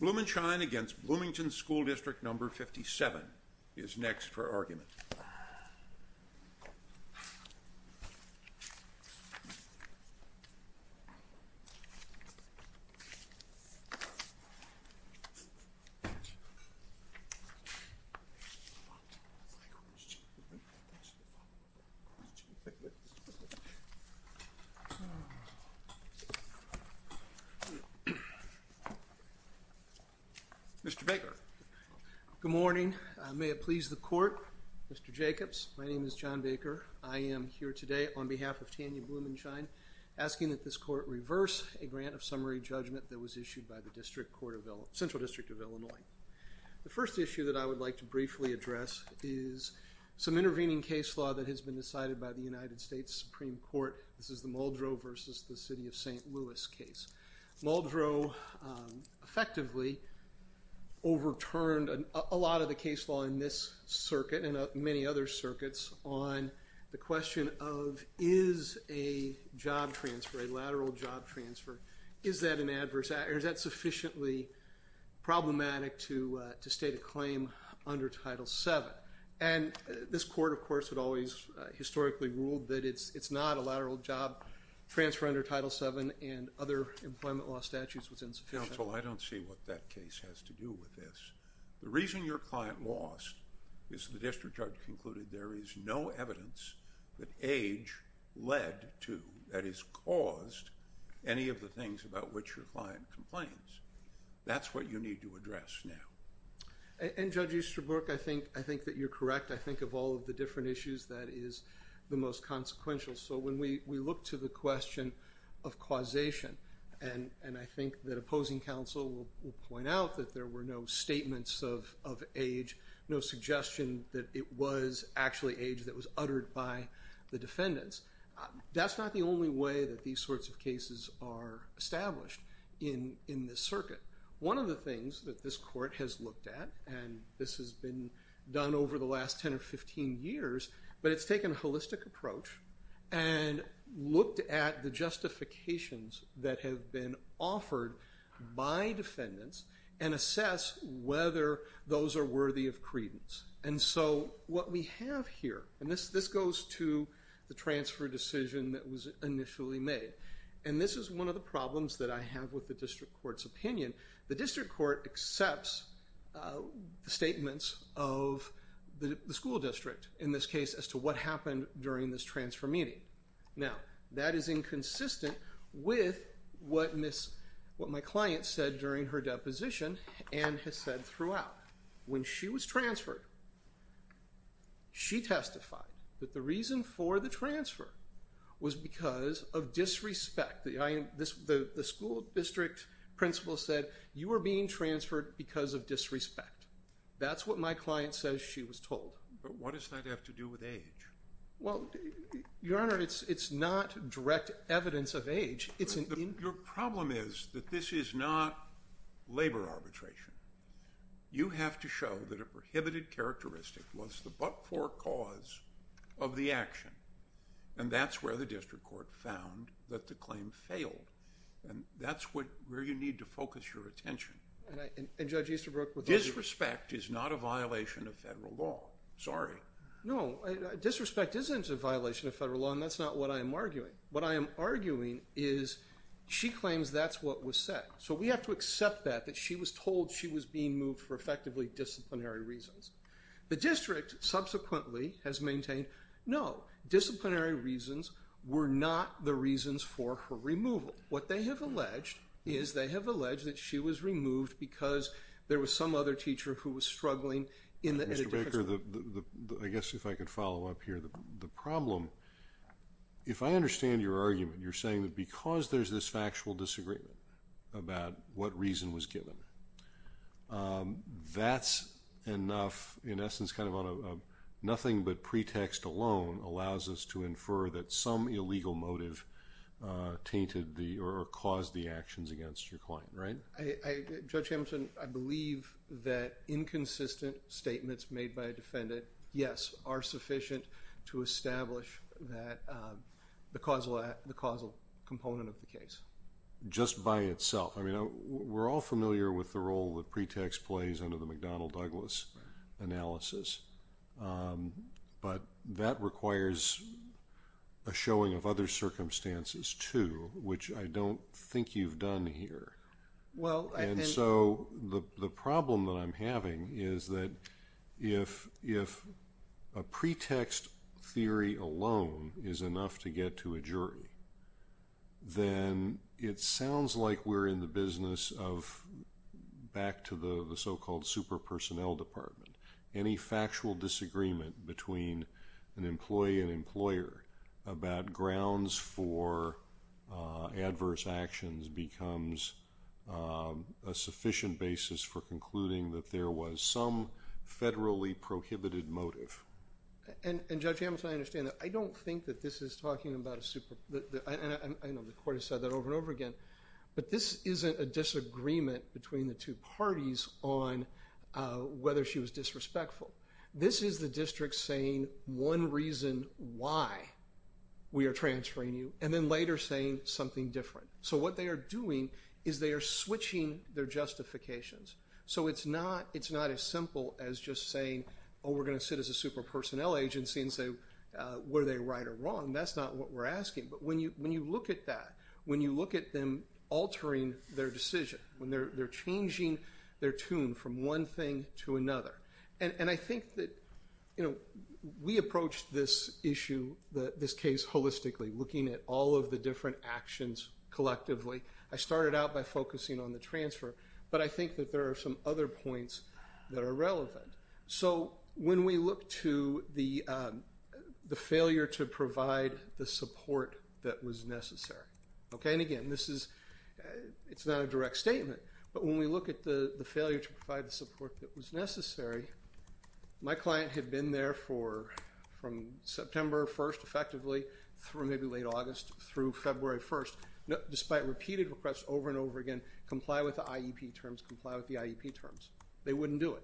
Blumenshine against Bloomington School District No. 57 is next for argument. Mr. Baker. Good morning. May it please the court. Mr. Jacobs. My name is John Baker. I am here today on behalf of Tanya Blumenshine asking that this court reverse a grant of summary judgment that was issued by the Central District of Illinois. The first issue that I would like to briefly address is some intervening case law that has been decided by the United effectively overturned a lot of the case law in this circuit and many other circuits on the question of is a job transfer, a lateral job transfer, is that sufficiently problematic to state a claim under Title VII. And this court, of course, had always historically ruled that it's not a lateral job transfer under Title VII and other employment law statutes was insufficient. Counsel, I don't see what that case has to do with this. The reason your client lost is the district judge concluded there is no evidence that age led to, that is caused, any of the things about which your client complains. That's what you need to address now. And Judge Easterbrook, I think, I think that you're correct. I think of all of the different issues that is the most consequential. So when we look to the question of causation and I think that opposing counsel will point out that there were no statements of age, no suggestion that it was actually age that was uttered by the defendants. That's not the only way that these sorts of cases are established in this circuit. One of the things that this court has looked at, and this has been done over the last 10 or 15 years, but it's taken a holistic approach and looked at the justifications that have been offered by defendants and assess whether those are worthy of credence. And so what we have here, and this goes to the transfer decision that was initially made. And this is one of the problems that I have with the district court's opinion. The district court accepts the statements of the school district in this case as to what happened during this transfer meeting. Now that is inconsistent with what my client said during her deposition and has said throughout. When she was transferred, she testified that the reason for the transfer was because of disrespect. The school district principal said, you are being transferred because of disrespect. That's what my client says she was told. But what does that have to do with age? Well, Your Honor, it's not direct evidence of age. Your problem is that this is not labor arbitration. You have to show that a prohibited characteristic was the but-for cause of the action. And that's where the district court found that the claim failed. And that's where you need to focus your attention. Disrespect is not a violation of federal law. Sorry. No, disrespect isn't a violation of federal law, and that's not what I'm arguing. What I am arguing is she claims that's what was said. So we have to accept that she was told she was being moved for effectively disciplinary reasons. The district subsequently has maintained, no, disciplinary reasons were not the reasons for her removal. What they have alleged is they have alleged that she was removed because there was some other teacher who was struggling. Mr. Baker, I guess if I could follow up here. The problem, if I understand your argument, you're saying that because there's this factual disagreement about what reason was given, that's enough, in essence, nothing but pretext alone allows us to infer that some illegal motive tainted or caused the actions against your client, right? Judge Hamilton, I believe that inconsistent statements made by a defendant, yes, are sufficient to establish the causal component of the case. Just by itself. We're all familiar with the role that pretext plays under the McDonnell-Douglas analysis. But that requires a showing of other circumstances, too, which I don't think you've done here. And so the problem that I'm having is that if a pretext theory alone is enough to get to a jury, then it sounds like we're in the business of back to the so-called super personnel department. Any factual disagreement between an employee and employer about grounds for adverse actions becomes a sufficient basis for concluding that there was some federally prohibited motive. And Judge Hamilton, I understand that. I don't think that this is talking about a super – and I know the Court has said that over and over again – but this isn't a disagreement between the two parties on whether she was disrespectful. This is the district saying one reason why we are transferring you, and then later saying something different. So what they are doing is they are switching their justifications. So it's not as simple as just saying, oh, we're going to sit as a super personnel agency and say, were they right or wrong? That's not what we're asking. But when you look at that, when you look at them altering their decision, when they're changing their tune from one thing to another – and I think that we approach this issue, this case holistically, looking at all of the different actions collectively. I started out by focusing on the transfer, but I think that there are some other points that are relevant. So when we look to the failure to provide the support that was necessary – and again, it's not a direct statement – but when we look at the failure to provide the support that was necessary, my client had been there from September 1st, effectively, through maybe late August, through February 1st, despite repeated requests over and over again, comply with the IEP terms, comply with the IEP terms. They wouldn't do it.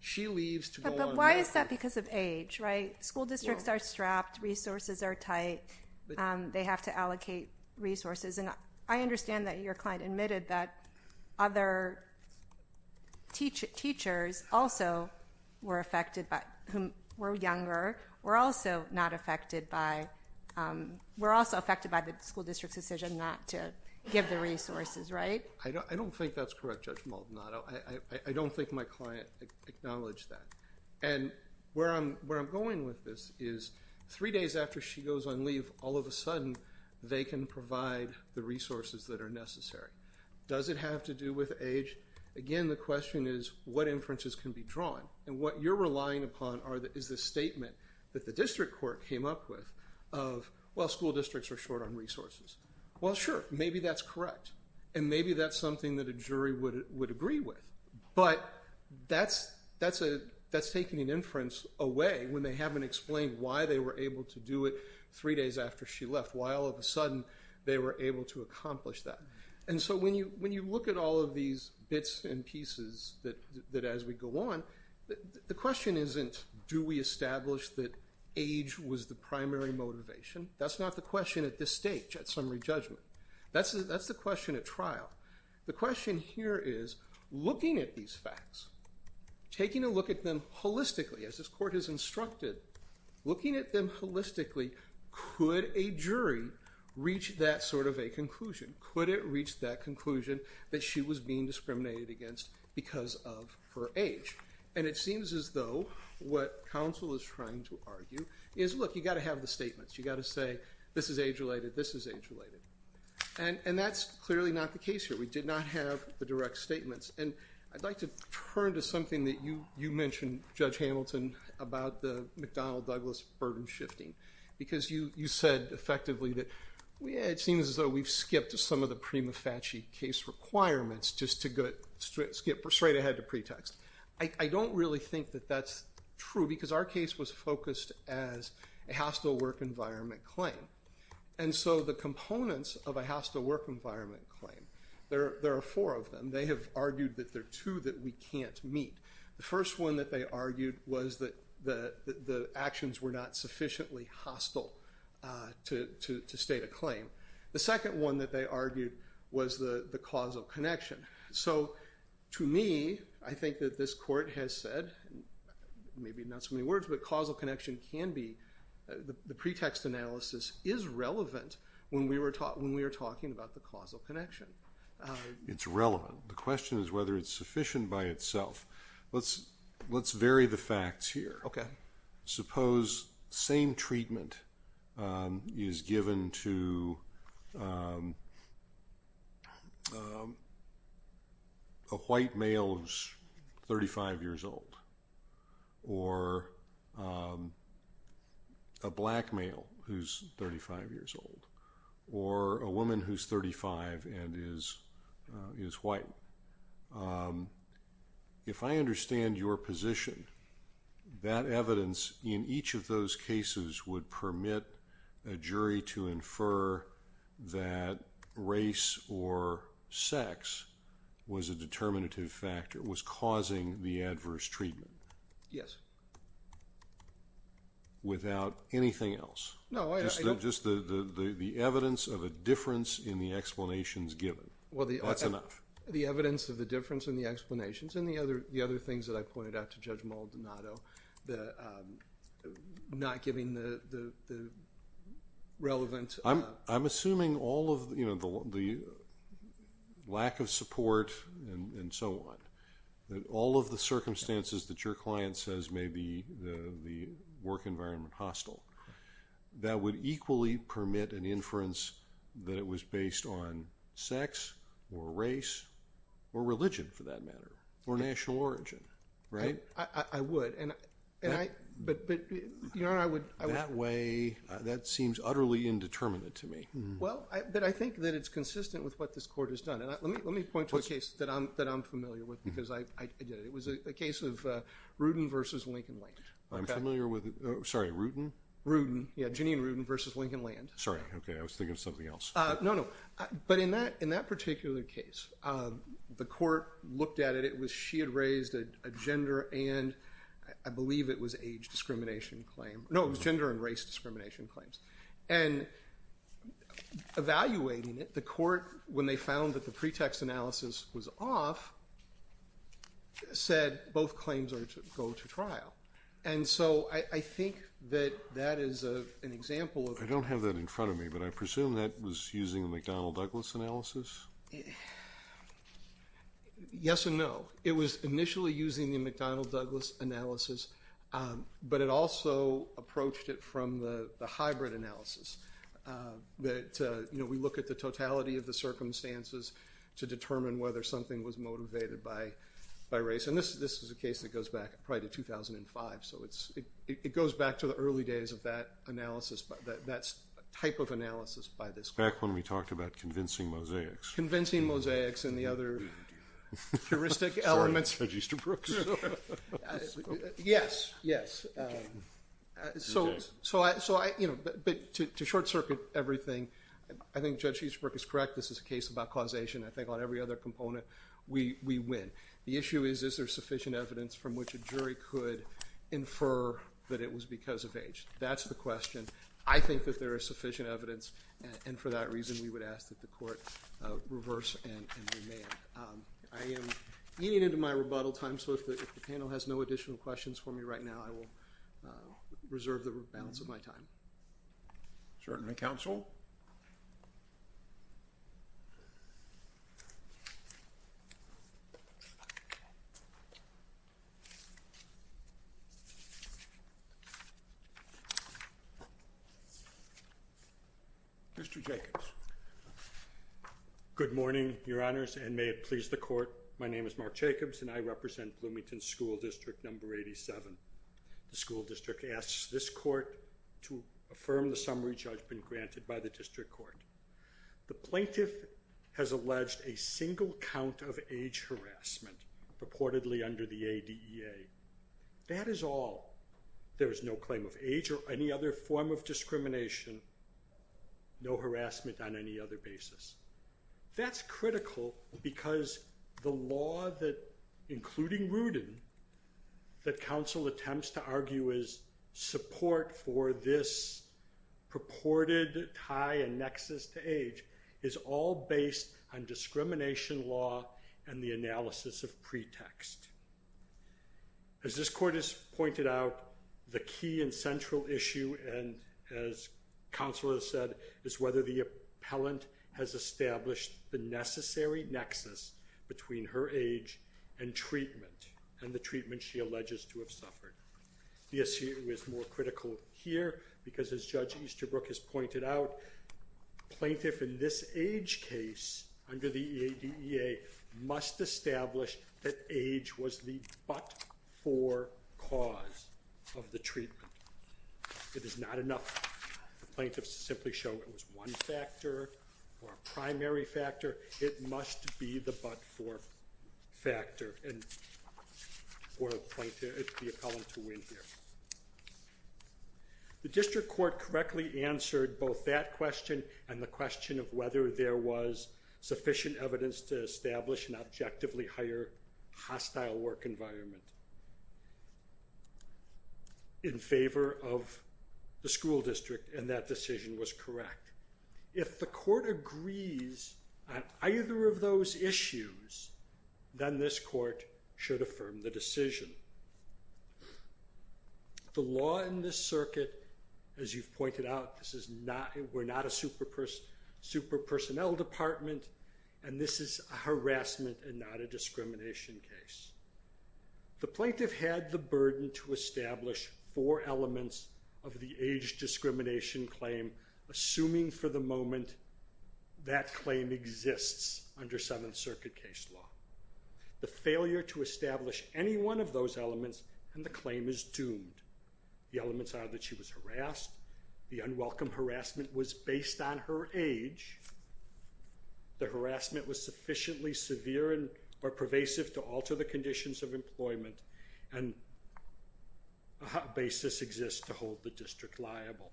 She leaves to go on – But why is that? Because of age, right? School districts are strapped. Resources are tight. They have to allocate resources. And I understand that your client admitted that other teachers also were affected, who were younger, were also not affected by – were also affected by the school district's decision not to give the resources, right? I don't think that's correct, Judge Maldonado. I don't think my client acknowledged that. And where I'm going with this is, three days after she goes on leave, all of a sudden, they can provide the resources that are necessary. Does it have to do with age? Again, the question is, what inferences can be drawn? And what you're relying upon is the statement that the district court came up with of, well, school districts are short on resources. Well, sure, maybe that's correct. And maybe that's something that a jury would agree with. But that's taking an inference away when they haven't explained why they were able to do it three days after she left, why all of a sudden they were able to accomplish that. And so when you look at all of these bits and pieces that, as we go on, the question isn't, do we establish that age was the primary motivation? That's not the question at this stage at summary judgment. That's the question at trial. The question here is, looking at these facts, taking a look at them holistically, as this court has instructed, looking at them holistically, could a jury reach that sort of a conclusion? Could it reach that conclusion that she was being discriminated against because of her age? And it seems as though what counsel is trying to argue is, look, you've got to have the statements. You've got to say, this is age-related, this is age-related. And that's clearly not the case here. We did not have the direct statements. And I'd like to turn to something that you mentioned, Judge Hamilton, about the McDonnell-Douglas burden shifting. Because you said effectively that, yeah, it seems as though we've skipped some of the prima facie case requirements just to skip straight ahead to pretext. I don't really think that that's true because our case was focused as a hostile work environment claim. And so the components of a hostile work environment claim, there are four of them. They have argued that there are two that we can't meet. The first one that they argued was that the actions were not sufficiently hostile to state a claim. The second one that they argued was the causal connection. So to me, I think that this court has said, maybe not so many words, but causal connection can be, the pretext analysis is relevant when we are talking about the causal connection. It's relevant. The question is whether it's sufficient by itself. Let's vary the facts here. Suppose same treatment is given to a white male who's 35 years old, or a black male who's 35 years old, or a woman who's 35 and is white. If I understand your position, that evidence in each of those cases would permit a jury to infer that race or sex was a determinative factor, was causing the adverse treatment. Yes. Without anything else? No. Just the evidence of a difference in the explanations given. That's enough. The evidence of the difference in the explanations and the other things that I pointed out to Judge Maldonado, not giving the relevant… I'm assuming all of the lack of support and so on, that all of the circumstances that your client says may be the work environment hostile, that would equally permit an inference that it was based on sex or race or religion, for that matter, or national origin, right? I would. That way, that seems utterly indeterminate to me. Well, but I think that it's consistent with what this Court has done. Let me point to a case that I'm familiar with because I did it. It was a case of Rudin versus Lincoln-Lange. I'm familiar with it. Sorry, Rudin? Rudin. Yeah, Ginny and Rudin versus Lincoln-Lange. Sorry. Okay. I was thinking of something else. No, no. But in that particular case, the Court looked at it. It was she had raised a gender and I believe it was age discrimination claim. No, it was gender and race discrimination claims. And evaluating it, the Court, when they found that the pretext analysis was off, said both claims are to go to trial. And so I think that that is an example. I don't have that in front of me, but I presume that was using the McDonnell-Douglas analysis? Yes and no. It was initially using the McDonnell-Douglas analysis, but it also approached it from the hybrid analysis. We look at the totality of the circumstances to determine whether something was motivated by race. And this is a case that goes back probably to 2005, so it goes back to the early days of that analysis, that type of analysis by this Court. Back when we talked about convincing mosaics. Convincing mosaics and the other heuristic elements. Sorry, Judge Easterbrook. Yes, yes. But to short-circuit everything, I think Judge Easterbrook is correct. This is a case about causation. I think on every other component we win. The issue is, is there sufficient evidence from which a jury could infer that it was because of age? That's the question. I think that there is sufficient evidence, and for that reason we would ask that the Court reverse and remand. I am getting into my rebuttal time, so if the panel has no additional questions for me right now, I will reserve the balance of my time. Certainly, Counsel. Mr. Jacobs. Good morning, Your Honors, and may it please the Court. My name is Mark Jacobs, and I represent Bloomington School District No. 87. The school district asks this Court to affirm the summary judgment granted by the District Court. The plaintiff has alleged a single count of age harassment, purportedly under the ADEA. That is all. There is no claim of age or any other form of discrimination, no harassment on any other basis. That's critical because the law, including Rudin, that Counsel attempts to argue is support for this purported tie and nexus to age, is all based on discrimination law and the analysis of pretext. As this Court has pointed out, the key and central issue, and as Counsel has said, is whether the appellant has established the necessary nexus between her age and treatment and the treatment she alleges to have suffered. The issue is more critical here because, as Judge Easterbrook has pointed out, plaintiff in this age case under the ADEA must establish that age was the but-for cause of the treatment. It is not enough for plaintiffs to simply show it was one factor or a primary factor. It must be the but-for factor for the appellant to win here. The District Court correctly answered both that question and the question of whether there was sufficient evidence to establish an objectively higher hostile work environment. in favor of the school district, and that decision was correct. If the Court agrees on either of those issues, then this Court should affirm the decision. The law in this circuit, as you've pointed out, we're not a super-personnel department, and this is a harassment and not a discrimination case. The plaintiff had the burden to establish four elements of the age discrimination claim, assuming for the moment that claim exists under Seventh Circuit case law. The failure to establish any one of those elements and the claim is doomed. The elements are that she was harassed. The unwelcome harassment was based on her age. The harassment was sufficiently severe or pervasive to alter the conditions of employment and a basis exists to hold the district liable.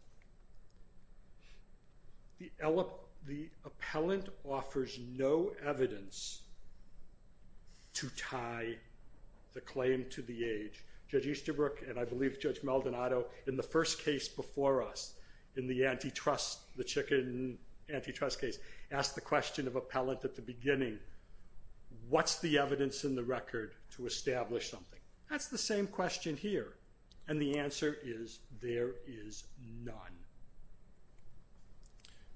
The appellant offers no evidence to tie the claim to the age. Judge Easterbrook, and I believe Judge Maldonado, in the first case before us, in the antitrust, the chicken antitrust case, asked the question of appellant at the beginning, what's the evidence in the record to establish something? That's the same question here, and the answer is there is none.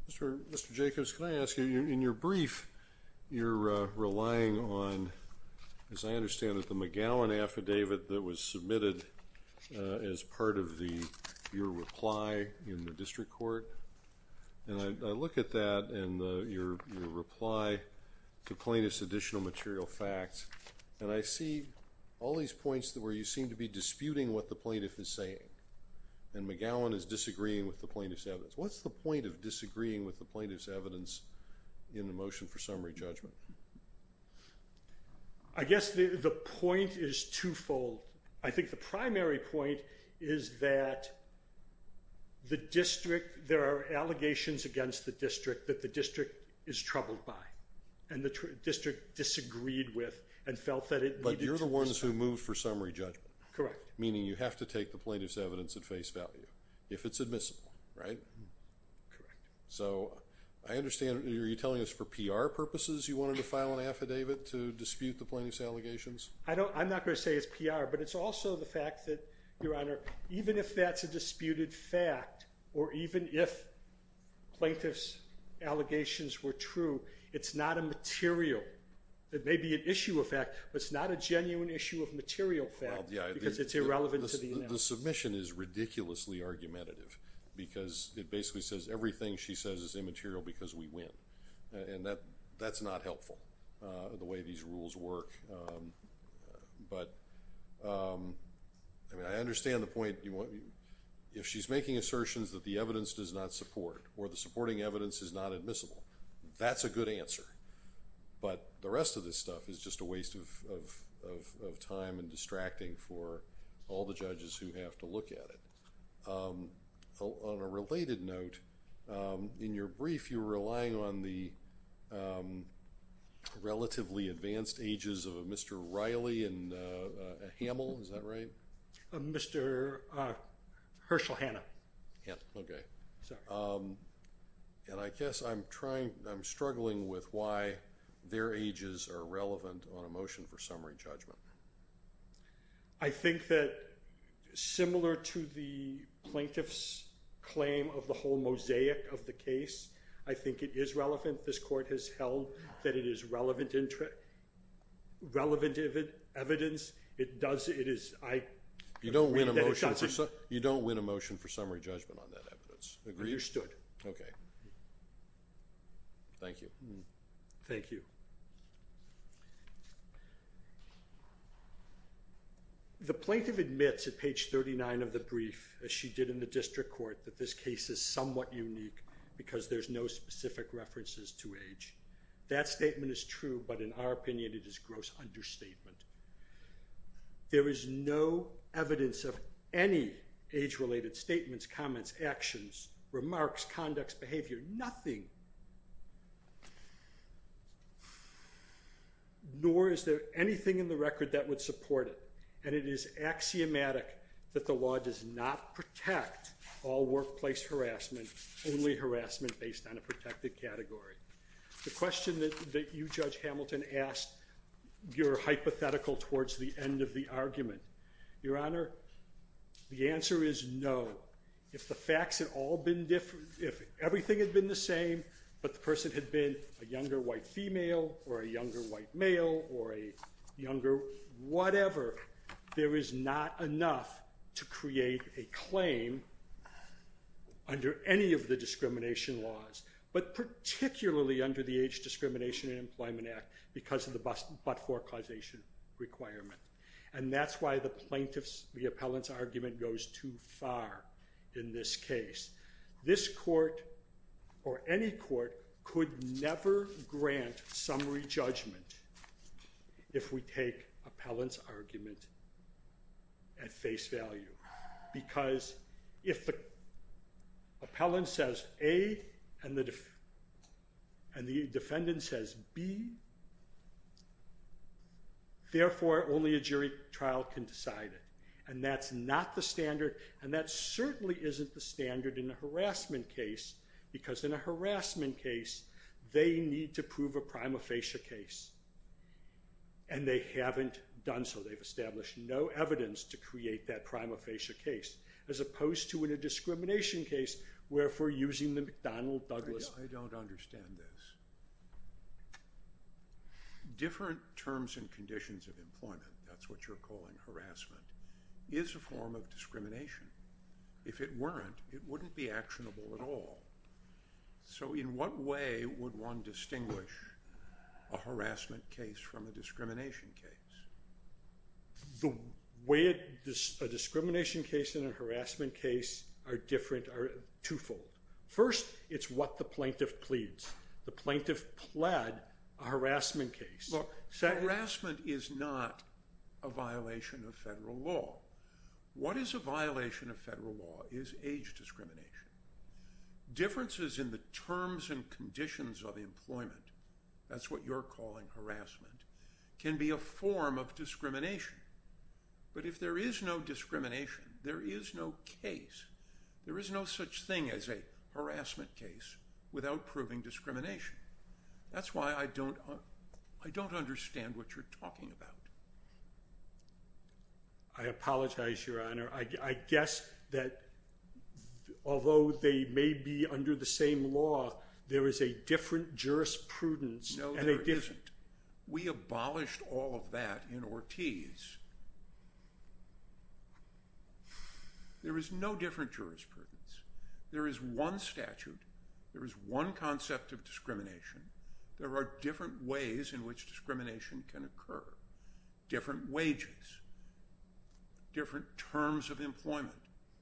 Mr. Jacobs, can I ask you, in your brief, you're relying on, as I understand it, the McGowan affidavit that was submitted as part of your reply in the district court, and I look at that and your reply to plaintiff's additional material facts, and I see all these points where you seem to be disputing what the plaintiff is saying, and McGowan is disagreeing with the plaintiff's evidence. What's the point of disagreeing with the plaintiff's evidence in the motion for summary judgment? I guess the point is twofold. I think the primary point is that the district, there are allegations against the district that the district is troubled by and the district disagreed with and felt that it needed to be solved. But you're the ones who moved for summary judgment. Correct. Meaning you have to take the plaintiff's evidence at face value if it's admissible, right? Correct. So I understand, are you telling us for PR purposes you wanted to file an affidavit to dispute the plaintiff's allegations? I'm not going to say it's PR, but it's also the fact that, Your Honor, even if that's a disputed fact or even if plaintiff's allegations were true, it's not a material, it may be an issue of fact, but it's not a genuine issue of material fact because it's irrelevant to the analysis. The submission is ridiculously argumentative because it basically says everything she says is immaterial because we win. And that's not helpful, the way these rules work. But I understand the point. If she's making assertions that the evidence does not support or the supporting evidence is not admissible, that's a good answer. But the rest of this stuff is just a waste of time and distracting for all the judges who have to look at it. On a related note, in your brief, you were relying on the relatively advanced ages of a Mr. Riley and a Hamill, is that right? Mr. Herschel Hanna. And I guess I'm struggling with why their ages are relevant on a motion for summary judgment. I think that similar to the plaintiff's claim of the whole mosaic of the case, I think it is relevant. This court has held that it is relevant evidence. You don't win a motion for summary judgment on that evidence, agree? Okay. Thank you. Thank you. The plaintiff admits at page 39 of the brief, as she did in the district court, that this case is somewhat unique because there's no specific references to age. That statement is true, but in our opinion, it is gross understatement. There is no evidence of any age-related statements, comments, actions, remarks, conducts, behavior, nothing. Nor is there anything in the record that would support it. And it is axiomatic that the law does not protect all workplace harassment, only harassment based on a protected category. The question that you, Judge Hamilton, asked, you're hypothetical towards the end of the argument. Your Honor, the answer is no. If the facts had all been different, if everything had been the same, but the person had been a younger white female or a younger white male or a younger whatever, there is not enough to create a claim under any of the discrimination laws. But particularly under the Age Discrimination and Employment Act because of the but-for causation requirement. And that's why the plaintiff's, the appellant's argument goes too far in this case. This court or any court could never grant summary judgment if we take appellant's argument at face value. Because if the appellant says A and the defendant says B, therefore only a jury trial can decide it. And that's not the standard and that certainly isn't the standard in a harassment case because in a harassment case they need to prove a prima facie case. And they haven't done so. They've established no evidence to create that prima facie case as opposed to in a discrimination case where if we're using the McDonnell-Douglas... I don't understand this. Different terms and conditions of employment, that's what you're calling harassment, is a form of discrimination. If it weren't, it wouldn't be actionable at all. So in what way would one distinguish a harassment case from a discrimination case? The way a discrimination case and a harassment case are different are twofold. First, it's what the plaintiff pleads. The plaintiff pled a harassment case. Well, harassment is not a violation of federal law. What is a violation of federal law is age discrimination. Differences in the terms and conditions of employment, that's what you're calling harassment, can be a form of discrimination. But if there is no discrimination, there is no case, there is no such thing as a harassment case without proving discrimination. That's why I don't understand what you're talking about. I apologize, Your Honor. I guess that although they may be under the same law, there is a different jurisprudence. No, there isn't. We abolished all of that in Ortiz. There is no different jurisprudence. There is one statute. There is one concept of discrimination. There are different ways in which discrimination can occur. Different wages, different terms of employment,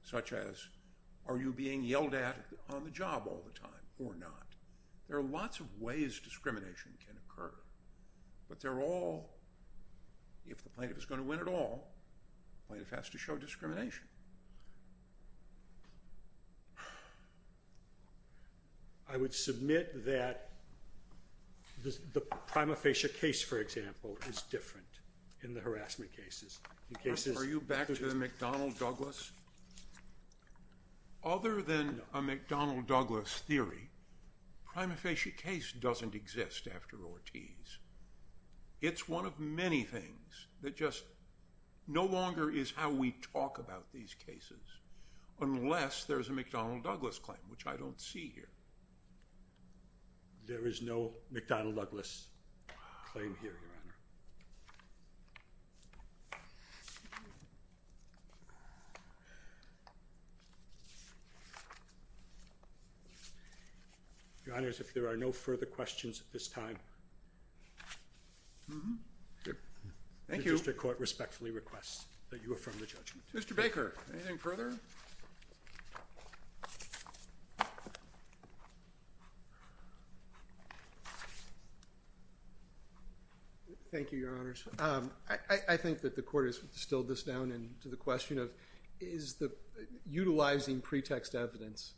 such as are you being yelled at on the job all the time or not. There are lots of ways discrimination can occur. But they're all, if the plaintiff is going to win it all, the plaintiff has to show discrimination. I would submit that the prima facie case, for example, is different in the harassment cases. Are you back to the McDonnell-Douglas? Other than a McDonnell-Douglas theory, prima facie case doesn't exist after Ortiz. It's one of many things that just no longer is how we talk about these cases unless there's a McDonnell-Douglas claim, which I don't see here. There is no McDonnell-Douglas claim here, Your Honor. Your Honor, if there are no further questions at this time, the district court respectfully requests that you affirm the judgment. Mr. Baker, anything further? Thank you, Your Honors. I think that the court has distilled this down into the question of utilizing pretext evidence.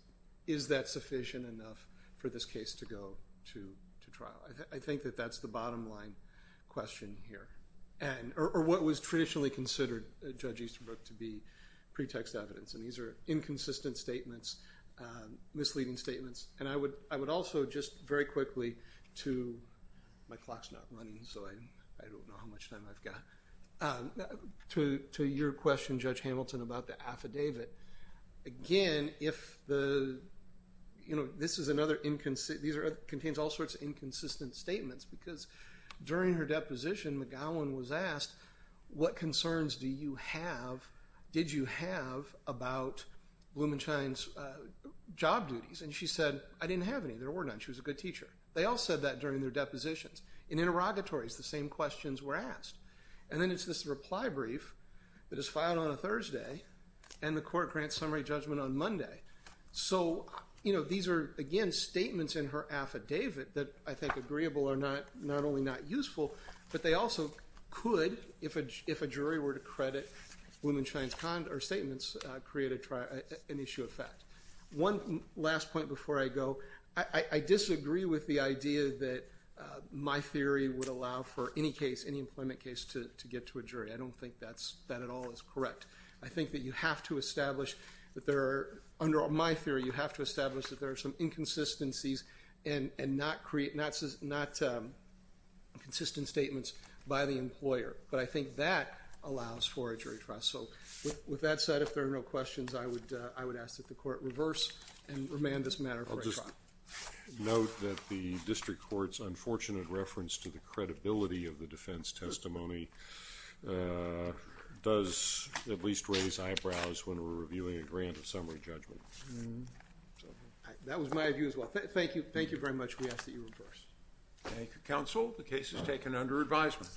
Is that sufficient enough for this case to go to trial? I think that that's the bottom line question here, or what was traditionally considered, Judge Easterbrook, to be pretext evidence. These are inconsistent statements, misleading statements. I would also just very quickly to your question, Judge Hamilton, about the affidavit. Again, this contains all sorts of inconsistent statements because during her deposition, McGowan was asked, what concerns did you have about Blumenshine's job duties? She said, I didn't have any. There were none. She was a good teacher. They all said that during their depositions. In interrogatories, the same questions were asked. Then it's this reply brief that is filed on a Thursday, and the court grants summary judgment on Monday. These are, again, statements in her affidavit that I think agreeable are not only not useful, but they also could, if a jury were to credit Blumenshine's statements, create an issue of fact. One last point before I go. I disagree with the idea that my theory would allow for any employment case to get to a jury. I don't think that at all is correct. I think that you have to establish that there are, under my theory, you have to establish that there are some inconsistencies and not consistent statements by the employer. But I think that allows for a jury trial. With that said, if there are no questions, I would ask that the court reverse and remand this matter for a trial. I'll just note that the district court's unfortunate reference to the credibility of the defense testimony does at least raise eyebrows when we're reviewing a grant of summary judgment. That was my view as well. Thank you very much. We ask that you reverse. Thank you, counsel. The case is taken under advisement.